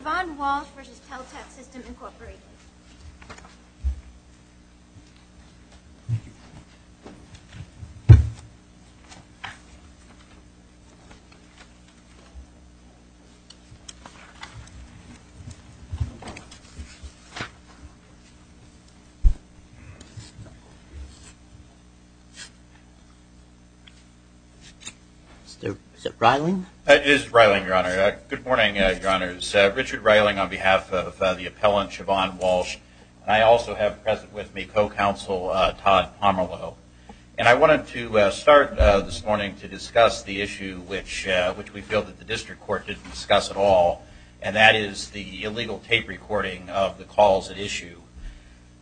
Yvonne Walsh v. Teltech Systems, Inc. Richard Reiling, Co-Counsel, Todd Pomerleau And I wanted to start this morning to discuss the issue which we feel that the district court didn't discuss at all, and that is the illegal tape recording of the calls at issue.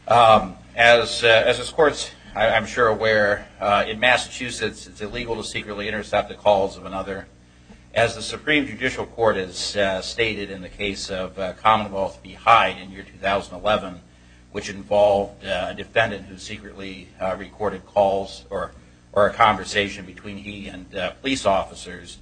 As this Court's, I'm sure, aware, in Massachusetts it's illegal to secretly intercept the calls of another. As the Supreme Judicial Court has stated in the case of Commonwealth v. Hyde in year 2011, which involved a defendant who secretly recorded calls or a conversation between he and police officers,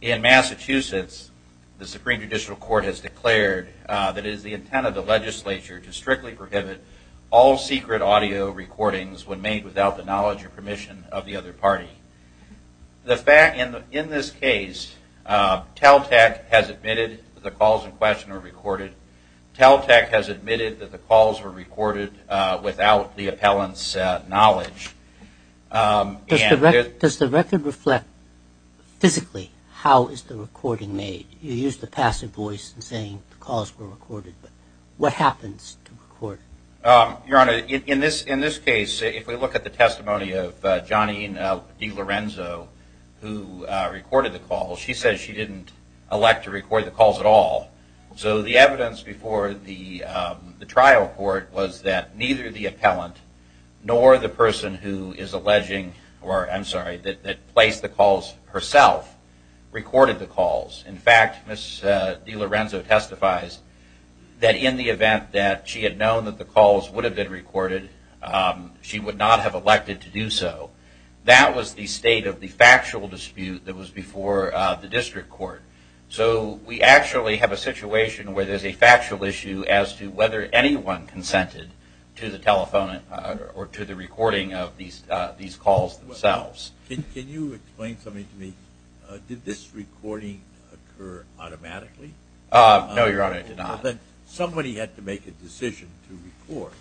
in Massachusetts the Supreme Judicial Court has declared that it is the intent of the legislature to strictly prohibit all secret audio recordings when made without the knowledge or permission of the other party. In this case, Teltech has admitted that the calls in question were recorded, Teltech has admitted that the calls were recorded without the appellant's knowledge. Does the record reflect, physically, how is the recording made? You used the passive voice in saying the calls were recorded, but what happens to the recording? Your Honor, in this case, if we look at the testimony of Johnny DeLorenzo, who recorded the calls, she says she didn't elect to record the calls at all. So the evidence before the trial court was that neither the appellant nor the person who is alleging, or I'm sorry, that placed the calls herself, recorded the calls. In fact, Ms. DeLorenzo testifies that in the event that she had known that the calls would have been recorded, she would not have elected to do so. That was the state of the factual dispute that was before the district court. So we actually have a situation where there's a factual issue as to whether anyone consented to the telephone or to the recording of these calls themselves. Can you explain something to me? Did this recording occur automatically? No, Your Honor, it did not. Somebody had to make a decision to record.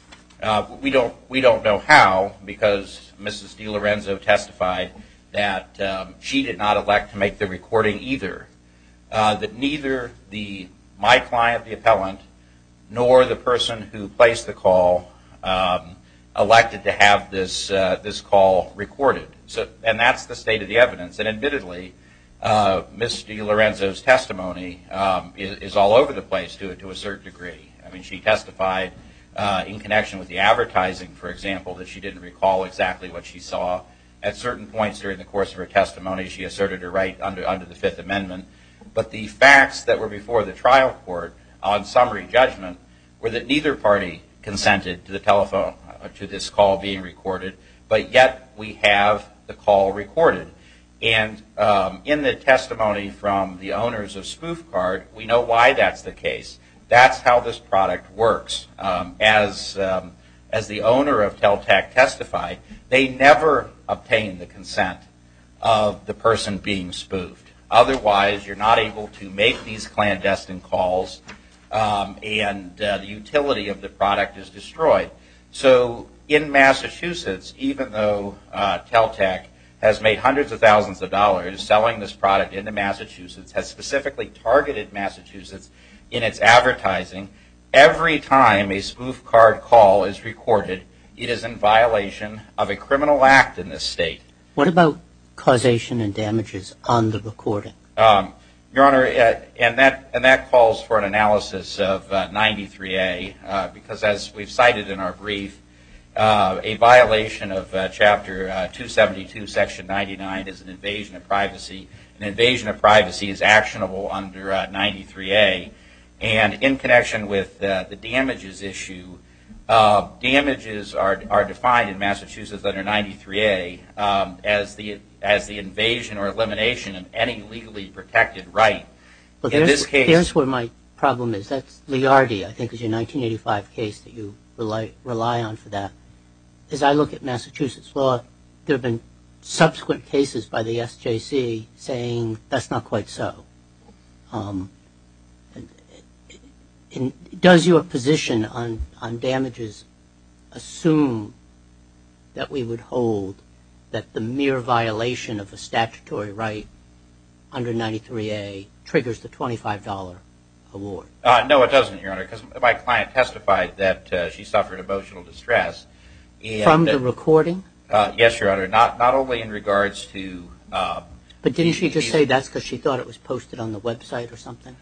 We don't know how because Ms. DeLorenzo testified that she did not elect to make the recording either. That neither my client, the appellant, nor the person who placed the call elected to have this call recorded. And that's the state of the evidence, and admittedly, Ms. DeLorenzo's testimony is all over the place to a certain degree. She testified in connection with the advertising, for example, that she didn't recall exactly what she saw. At certain points during the course of her testimony, she asserted her right under the Fifth Amendment. But the facts that were before the trial court on summary judgment were that neither party consented to this call being recorded, but yet we have the call recorded. And in the testimony from the owners of Spoof Card, we know why that's the case. That's how this product works. As the owner of Teltec testified, they never obtained the consent of the person being spoofed. Otherwise you're not able to make these clandestine calls and the utility of the product is destroyed. So in Massachusetts, even though Teltec has made hundreds of thousands of dollars selling this product into Massachusetts, has specifically targeted Massachusetts in its advertising, every time a Spoof Card call is recorded, it is in violation of a criminal act in this state. What about causation and damages on the recording? Your Honor, and that calls for an analysis of 93A, because as we've cited in our brief, a violation of Chapter 272, Section 99 is an invasion of privacy, an invasion of privacy is actionable under 93A. And in connection with the damages issue, damages are defined in Massachusetts under 93A as the invasion or elimination of any legally protected right. Here's where my problem is. That's Liardi, I think is your 1985 case that you rely on for that. As I look at Massachusetts law, there have been subsequent cases by the SJC saying that's not quite so. Does your position on damages assume that we would hold that the mere violation of a statutory right under 93A triggers the $25 award? No, it doesn't, Your Honor, because my client testified that she suffered emotional distress. From the recording? Yes, Your Honor. Not only in regards to... But didn't she just say that's because she thought it was posted on the website or something?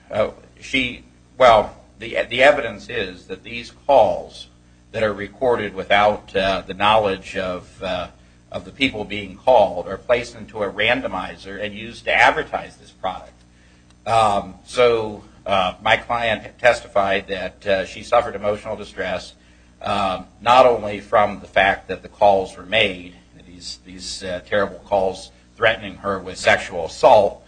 Well, the evidence is that these calls that are recorded without the knowledge of the people being called are placed into a randomizer and used to advertise this product. So my client testified that she suffered emotional distress not only from the fact that the calls were made, these terrible calls threatening her with sexual assault,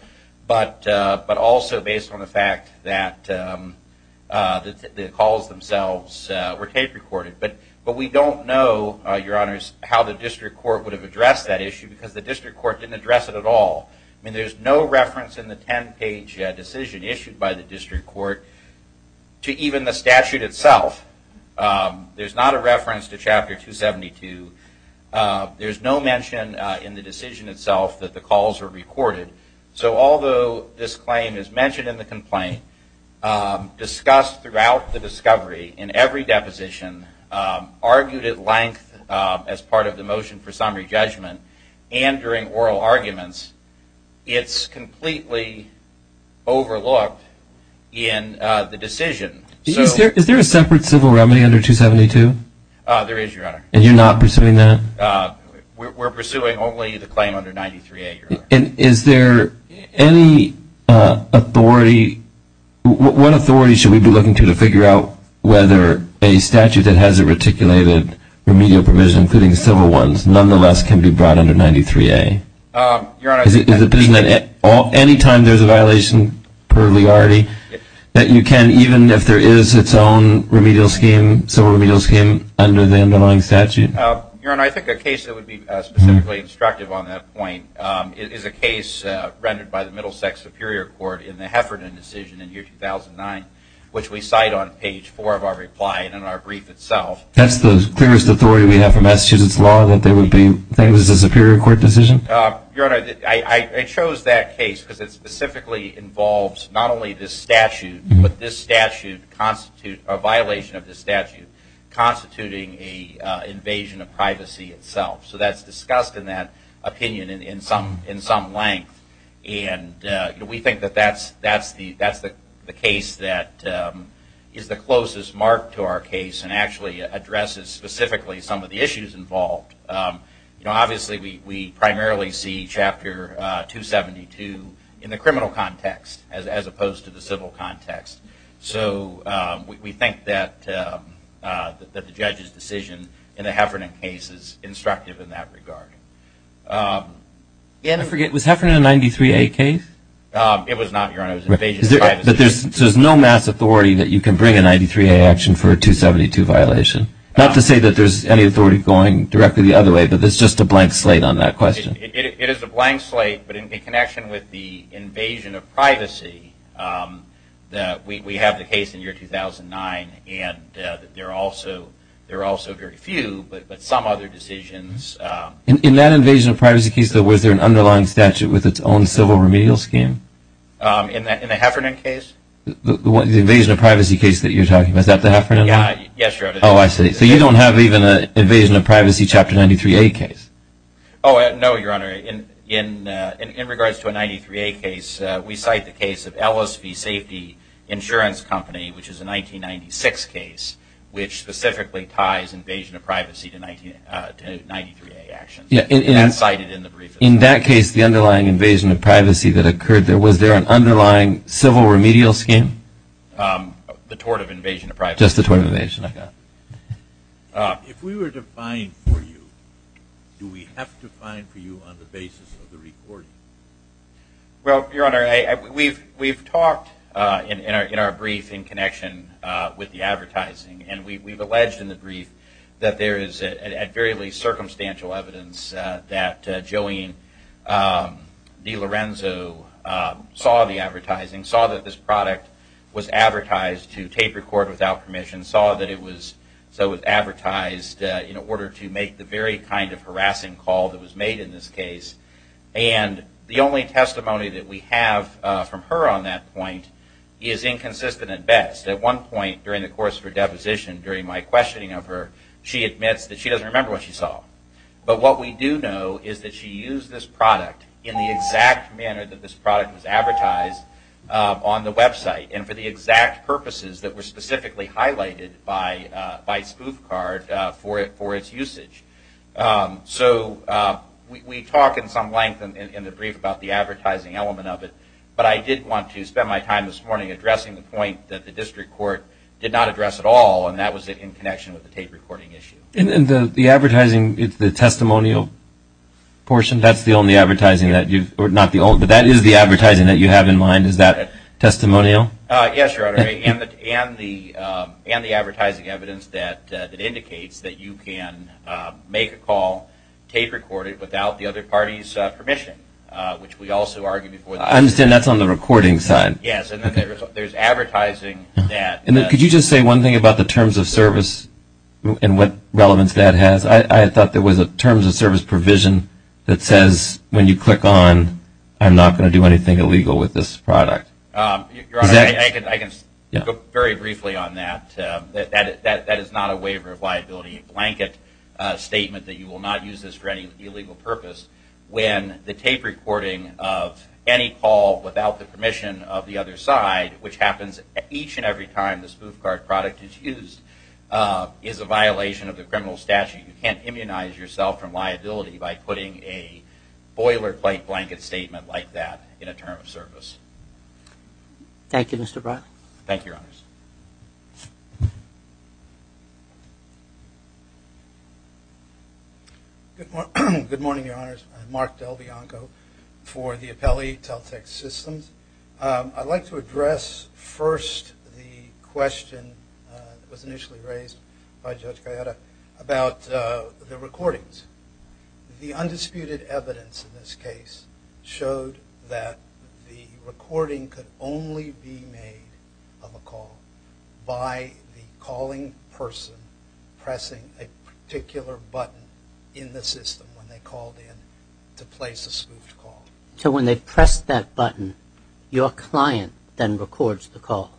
but also based on the fact that the calls themselves were tape recorded. But we don't know, Your Honors, how the district court would have addressed that issue because the district court didn't address it at all. There's no reference in the 10-page decision issued by the district court to even the statute itself. There's not a reference to Chapter 272. There's no mention in the decision itself that the calls were recorded. So although this claim is mentioned in the complaint, discussed throughout the discovery in every deposition, argued at length as part of the motion for summary judgment, and during oral arguments, it's completely overlooked in the decision. Is there a separate civil remedy under 272? There is, Your Honor. And you're not pursuing that? We're pursuing only the claim under 93A, Your Honor. Is there any authority, what authority should we be looking to to figure out whether a statute that has a reticulated remedial provision, including civil ones, nonetheless can be brought under 93A? Your Honor, I think that's a case that would be specifically instructive on that point. It is a case rendered by the Middlesex Superior Court in the Heffernan decision in year 2009, which we cite on page four of our reply and in our brief itself. That's the clearest authority we have for Massachusetts law, that there would be things as a Superior Court decision? Your Honor, I chose that case because it specifically involves not only this statute, but this statute constitute, a violation of this statute, constituting an invasion of privacy itself. So that's discussed in that opinion in some length, and we think that that's the case that is the closest mark to our case and actually addresses specifically some of the issues involved. Obviously, we primarily see Chapter 272 in the criminal context, as opposed to the civil context. So we think that the judge's decision in the Heffernan case is instructive in that regard. Was Heffernan a 93A case? It was not, Your Honor. It was an invasion of privacy. So there's no mass authority that you can bring a 93A action for a 272 violation? Not to say that there's any authority going directly the other way, but there's just a blank slate on that question. It is a blank slate, but in connection with the invasion of privacy, we have the case in year 2009, and there are also very few, but some other decisions. In that invasion of privacy case, though, was there an underlying statute with its own civil remedial scheme? In the Heffernan case? The invasion of privacy case that you're talking about, is that the Heffernan one? Yes, Your Honor. Oh, I see. So you don't have even an invasion of privacy chapter 93A case? Oh, no, Your Honor. In regards to a 93A case, we cite the case of Ellis v. Safety Insurance Company, which is a 1996 case, which specifically ties invasion of privacy to 93A actions, and that's cited in the brief. In that case, the underlying invasion of privacy that occurred there, was there an underlying civil remedial scheme? The tort of invasion of privacy? Just the tort of invasion of privacy. If we were to find for you, do we have to find for you on the basis of the recording? Well, Your Honor, we've talked in our brief in connection with the advertising, and we've alleged in the brief that there is, at the very least, circumstantial evidence that Jolene DiLorenzo saw the advertising, saw that this product was advertised to tape record without permission, saw that it was advertised in order to make the very kind of harassing call that was made in this case, and the only testimony that we have from her on that point is inconsistent at best. At one point during the course of her deposition, during my questioning of her, she admits that she doesn't remember what she saw. But what we do know is that she used this product in the exact manner that this product was advertised on the website, and for the exact purposes that were specifically highlighted by Spoof Card for its usage. So we talk in some length in the brief about the advertising element of it, but I did want to spend my time this morning addressing the point that the district court did not address at all, and that was in connection with the tape recording issue. And the advertising, the testimonial portion, that's the only advertising that you've, or not the only, but that is the advertising that you have in mind, is that testimonial? Yes, Your Honor, and the advertising evidence that indicates that you can make a call, tape record it without the other party's permission, which we also argue before the court. I understand that's on the recording side. Yes, and there's advertising that. And could you just say one thing about the terms of service and what relevance that has? I thought there was a terms of service provision that says when you click on, I'm not going to do anything illegal with this product. Your Honor, I can go very briefly on that. That is not a waiver of liability blanket statement that you will not use this for any illegal purpose. When the tape recording of any call without the permission of the other side, which happens each and every time the Spoof Card product is used, is a violation of the criminal statute You can't immunize yourself from liability by putting a boilerplate blanket statement like that in a terms of service. Thank you, Mr. Brock. Thank you, Your Honors. Good morning, Your Honors. I'm Mark DelBianco for the Appellee Teletext Systems. I'd like to address first the question that was initially raised by Judge Gallardo about the recordings. The undisputed evidence in this case showed that the recording could only be made of a call by the calling person pressing a particular button in the system when they called in to place a spoofed call. So when they press that button, your client then records the call?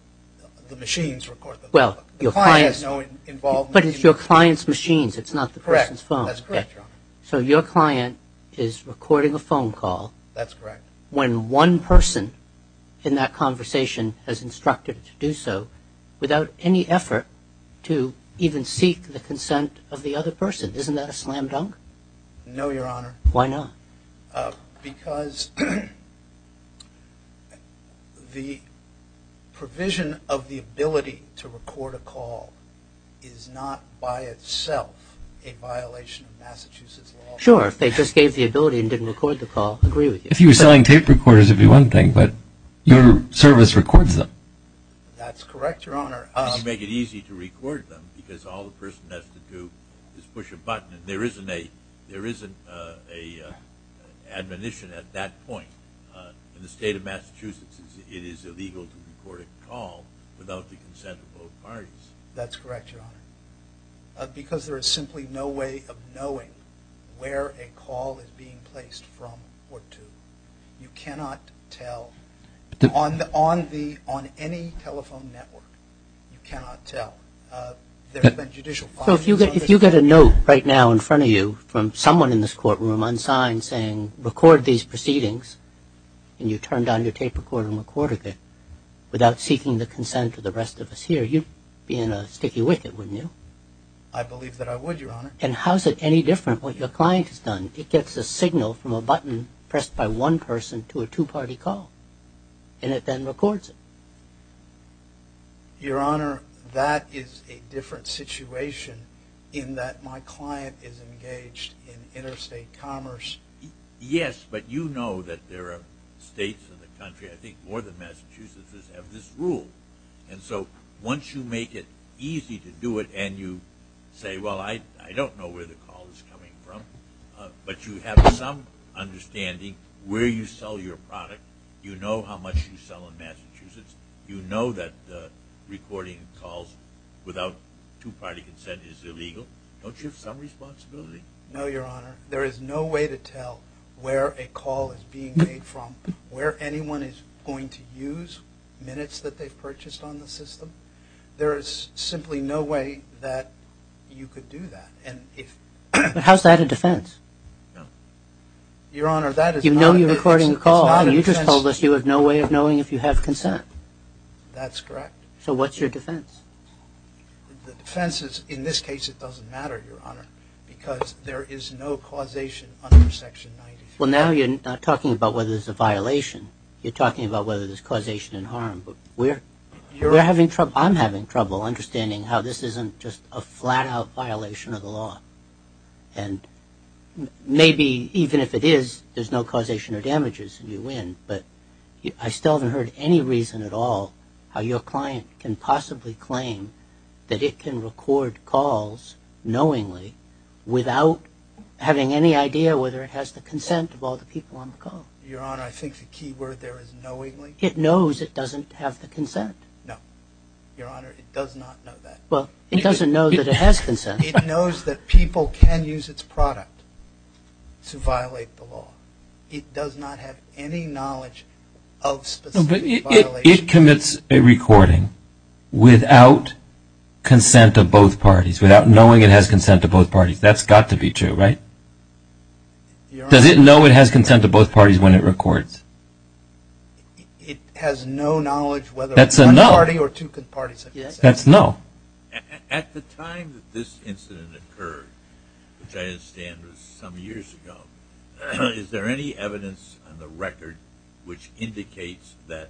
The machines record the call. But it's your client's machines, it's not the person's phone. That's correct, Your Honor. So your client is recording a phone call when one person in that conversation has instructed to do so without any effort to even seek the consent of the other person. Isn't that a slam dunk? No, Your Honor. Why not? Because the provision of the ability to record a call is not by itself a violation of Massachusetts law. Sure. If they just gave the ability and didn't record the call, I agree with you. If you were selling tape recorders, it would be one thing, but your service records them. That's correct, Your Honor. You make it easy to record them because all the person has to do is push a button and there isn't an admonition at that point in the state of Massachusetts that it is illegal to record a call without the consent of both parties. That's correct, Your Honor. Because there is simply no way of knowing where a call is being placed from or to. You cannot tell. On any telephone network, you cannot tell. So if you get a note right now in front of you from someone in this courtroom on sign saying, record these proceedings, and you turn down your tape recorder and record it without seeking the consent of the rest of us here, you'd be in a sticky wicket, wouldn't you? I believe that I would, Your Honor. And how is it any different what your client has done? It gets a signal from a button pressed by one person to a two-party call, and it then records it. Your Honor, that is a different situation in that my client is engaged in interstate commerce. Yes, but you know that there are states in the country, I think more than Massachusetts, that have this rule. And so once you make it easy to do it and you say, well, I don't know where the call is coming from, but you have some understanding where you sell your product, you know how much you sell in Massachusetts, you know that recording calls without two-party consent is illegal, don't you have some responsibility? No, Your Honor. There is no way to tell where a call is being made from, where anyone is going to use minutes that they've purchased on the system. There is simply no way that you could do that. How is that a defense? No. Your Honor, that is not a defense. You know you're recording a call. You just told us you have no way of knowing if you have consent. That's correct. So what's your defense? The defense is, in this case, it doesn't matter, Your Honor, because there is no causation under Section 93. Well, now you're not talking about whether there's a violation. You're talking about whether there's causation and harm. But we're having trouble, I'm having trouble understanding how this isn't just a flat-out violation of the law. And maybe even if it is, there's no causation or damages and you win, but I still haven't heard any reason at all how your client can possibly claim that it can record calls knowingly without having any idea whether it has the consent of all the people on the call. Your Honor, I think the key word there is knowingly. It knows it doesn't have the consent. No. Your Honor, it does not know that. Well, it doesn't know that it has consent. It knows that people can use its product to violate the law. It does not have any knowledge of specific violations. No, but it commits a recording without consent of both parties, without knowing it has consent of both parties. That's got to be true, right? Does it know it has consent of both parties when it records? It has no knowledge whether one party or two parties have consent. That's a no. At the time that this incident occurred, which I understand was some years ago, is there any evidence on the record which indicates that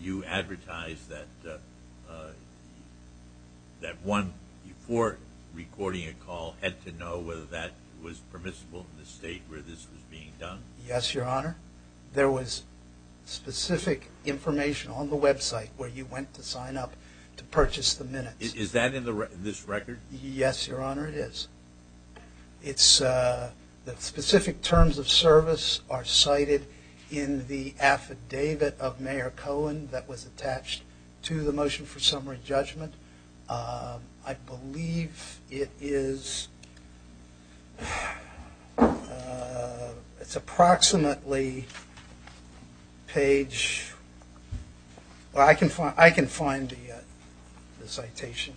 you advertised that one, before recording a call, had to know whether that was permissible in the state where this was being done? Yes, Your Honor. There was specific information on the website where you went to sign up to purchase the minutes. Is that in this record? Yes, Your Honor, it is. The specific terms of service are cited in the affidavit of Mayor Cohen that was attached to the motion for summary judgment. I believe it is, it's approximately page, I can find the citation.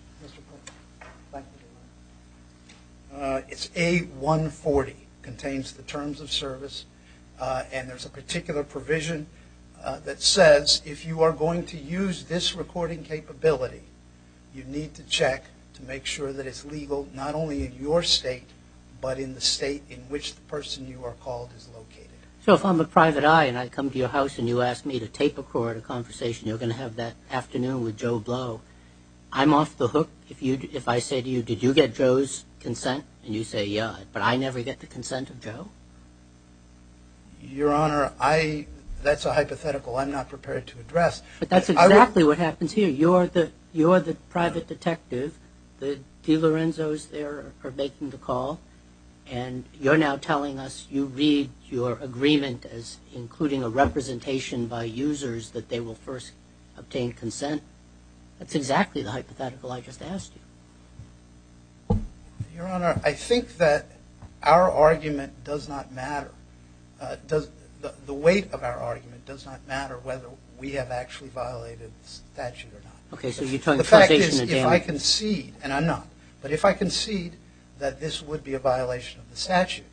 It's A140. It contains the terms of service and there's a particular provision that says if you are going to use this recording capability, you need to check to make sure that it's legal not only in your state, but in the state in which the person you are called is located. So if I'm a private eye and I come to your house and you ask me to tape a call or a conversation, you're going to have that afternoon with Joe Blow. I'm off the hook if I say to you, did you get Joe's consent? And you say, yeah, but I never get the consent of Joe? But that's exactly what happens here. You're the private detective. The DeLorenzo's there are making the call and you're now telling us you read your agreement as including a representation by users that they will first obtain consent. That's exactly the hypothetical I just asked you. Your Honor, I think that our argument does not matter. The weight of our argument does not matter whether we have actually violated the statute or not. The fact is if I concede, and I'm not, but if I concede that this would be a violation of the statute,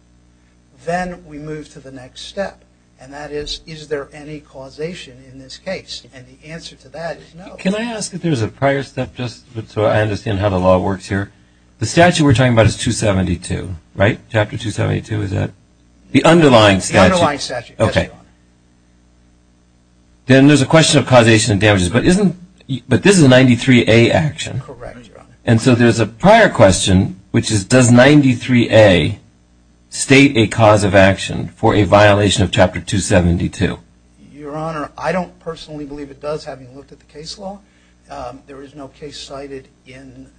then we move to the next step and that is, is there any causation in this case? And the answer to that is no. Can I ask if there's a prior step just so I understand how the law works here? The statute we're talking about is 272, right? Chapter 272 is that? The underlying statute. Then there's a question of causation and damages, but this is a 93A action. And so there's a prior question, which is does 93A state a cause of action for a violation of Chapter 272? Your Honor, I don't personally believe it does having looked at the case law. There is no case cited in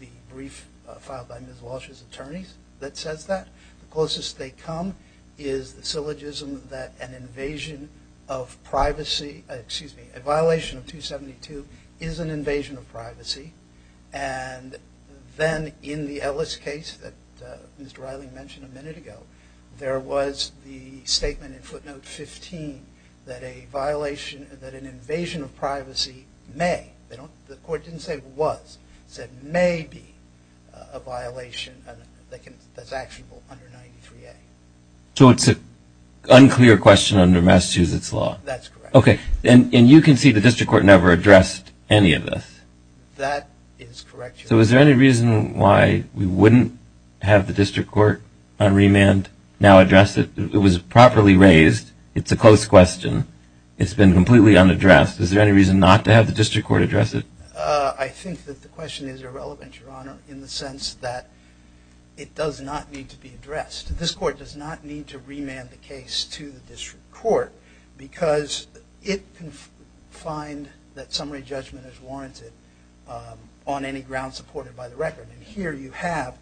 the brief filed by Ms. Walsh's attorneys that says that. The closest they come is the syllogism that an invasion of privacy, excuse me, a violation of 272 is an invasion of privacy. And then in the Ellis case that Mr. Reiling mentioned a minute ago, there was the statement in footnote 15 that a violation, that an invasion of privacy may, the court didn't say was, said may be a violation that's actionable under 93A. So it's an unclear question under Massachusetts law? That's correct. Okay. And you concede the district court never addressed any of this? That is correct, Your Honor. So is there any reason why we wouldn't have the district court on remand now address it? It was properly raised. It's a close question. It's been completely unaddressed. Is there any reason not to have the district court address it? I think that the question is irrelevant, Your Honor, in the sense that it does not need to be addressed. This court does not need to remand the case to the district court because it can find that summary judgment is warranted on any ground supported by the record. And here you have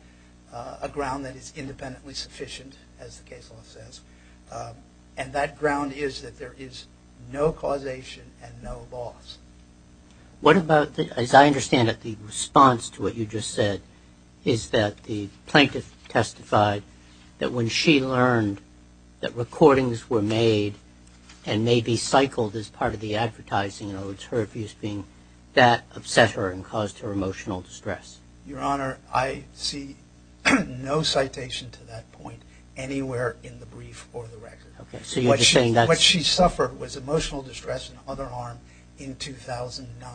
a ground that is independently sufficient, as the case law says. And that ground is that there is no causation and no loss. What about, as I understand it, the response to what you just said is that the plaintiff testified that when she learned that recordings were made and may be cycled as part of the advertising, in other words, her abuse being that upset her and caused her emotional distress. Your Honor, I see no citation to that point anywhere in the brief or the record. What she suffered was emotional distress and other harm in 2009.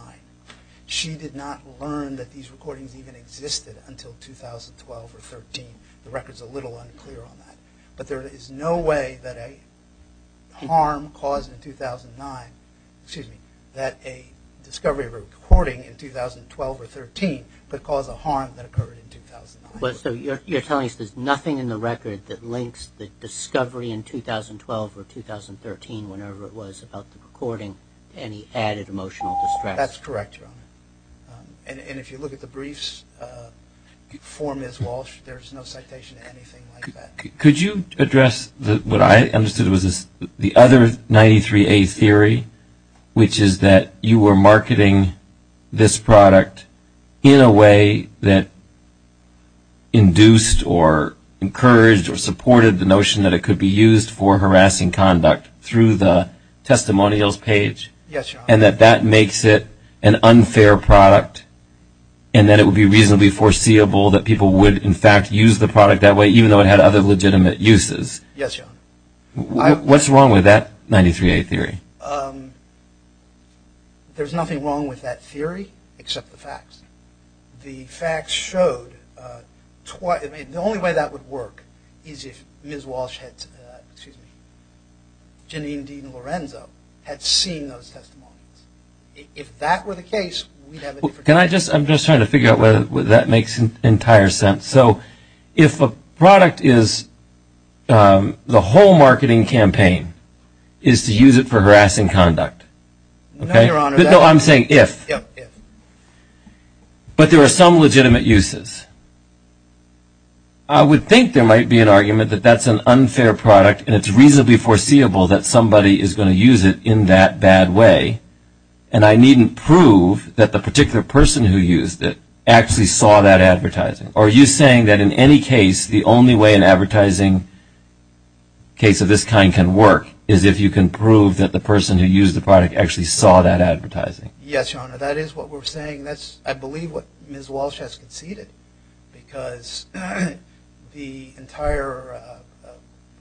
She did not learn that these recordings even existed until 2012 or 2013. The record is a little unclear on that. But there is no way that a harm caused in 2009, excuse me, that a discovery of a recording in 2012 or 2013 could cause a harm that occurred in 2009. So you're telling us there's nothing in the record that links the discovery in 2012 or 2013 whenever it was about the recording to any added emotional distress? That's correct, Your Honor. And if you look at the briefs for Ms. Walsh, there's no citation to anything like that. Could you address what I understood was the other 93A theory, which is that you were marketing this product in a way that induced or encouraged or supported the notion that it could be used for harassing conduct through the testimonials page? Yes, Your Honor. And that that makes it an unfair product to use the product that way even though it had other legitimate uses? Yes, Your Honor. What's wrong with that 93A theory? There's nothing wrong with that theory except the facts. The facts showed, the only way that would work is if Ms. Walsh had, excuse me, Jeanine Dean Lorenzo had seen those testimonials. If that were the case, we'd have a different case. Can I just, I'm just trying to figure out whether that makes entire sense. So if a product is, the whole marketing campaign is to use it for harassing conduct. No, Your Honor. No, I'm saying if. Yeah, if. But there are some legitimate uses. I would think there might be an argument that that's an unfair product and it's reasonably foreseeable that somebody is going to use it in that bad way and I needn't prove that the particular person who used it actually saw that advertising. Are you saying that in any case, the only way an advertising case of this kind can work is if you can prove that the person who used the product actually saw that advertising? Yes, Your Honor. That is what we're saying. That's, I believe, what Ms. Walsh has conceded because the entire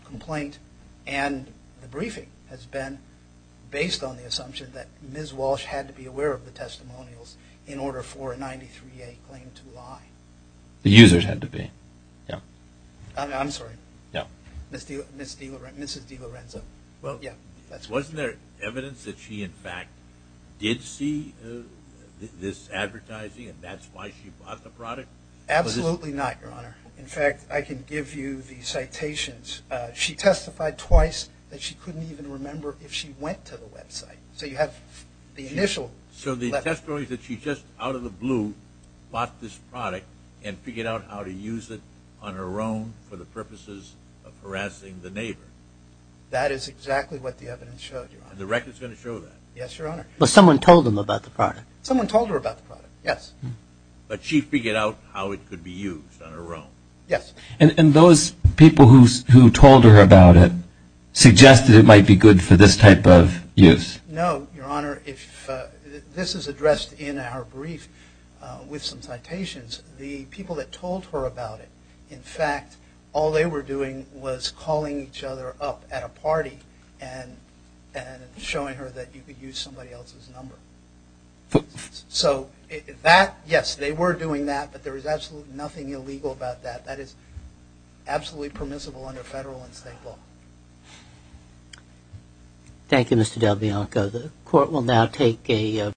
complaint and the briefing has been based on the assumption that Ms. Walsh had to be aware of the testimonials in order for a 93A claim to lie. The users had to be. Yeah. I'm sorry. Yeah. Mrs. DiLorenzo. Well, wasn't there evidence that she, in fact, did see this advertising and that's why she bought the product? Absolutely not, Your Honor. In fact, I can give you the citations. She testified twice that she couldn't even remember if she went to the website. So you have the initial. So the testimony that she just, out of the blue, bought this product and figured out how to use it on her own for the purposes of harassing the neighbor. That is exactly what the evidence showed, Your Honor. And the record's going to show that. Yes, Your Honor. But someone told them about the product. Someone told her about the product, yes. But she figured out how it could be used on her own. Yes. And those people who told her about it suggested it might be good for this type of use? No, Your Honor. If this is addressed in our brief with some citations, the people that told her about it, in fact, all they were doing was calling each other up at a party and showing her that you could use somebody else's number. So that, yes, they were doing that, but there was absolutely nothing illegal about that. That is absolutely permissible under federal and state law. Thank you, Mr. DelBianco. The Court will now take a vote.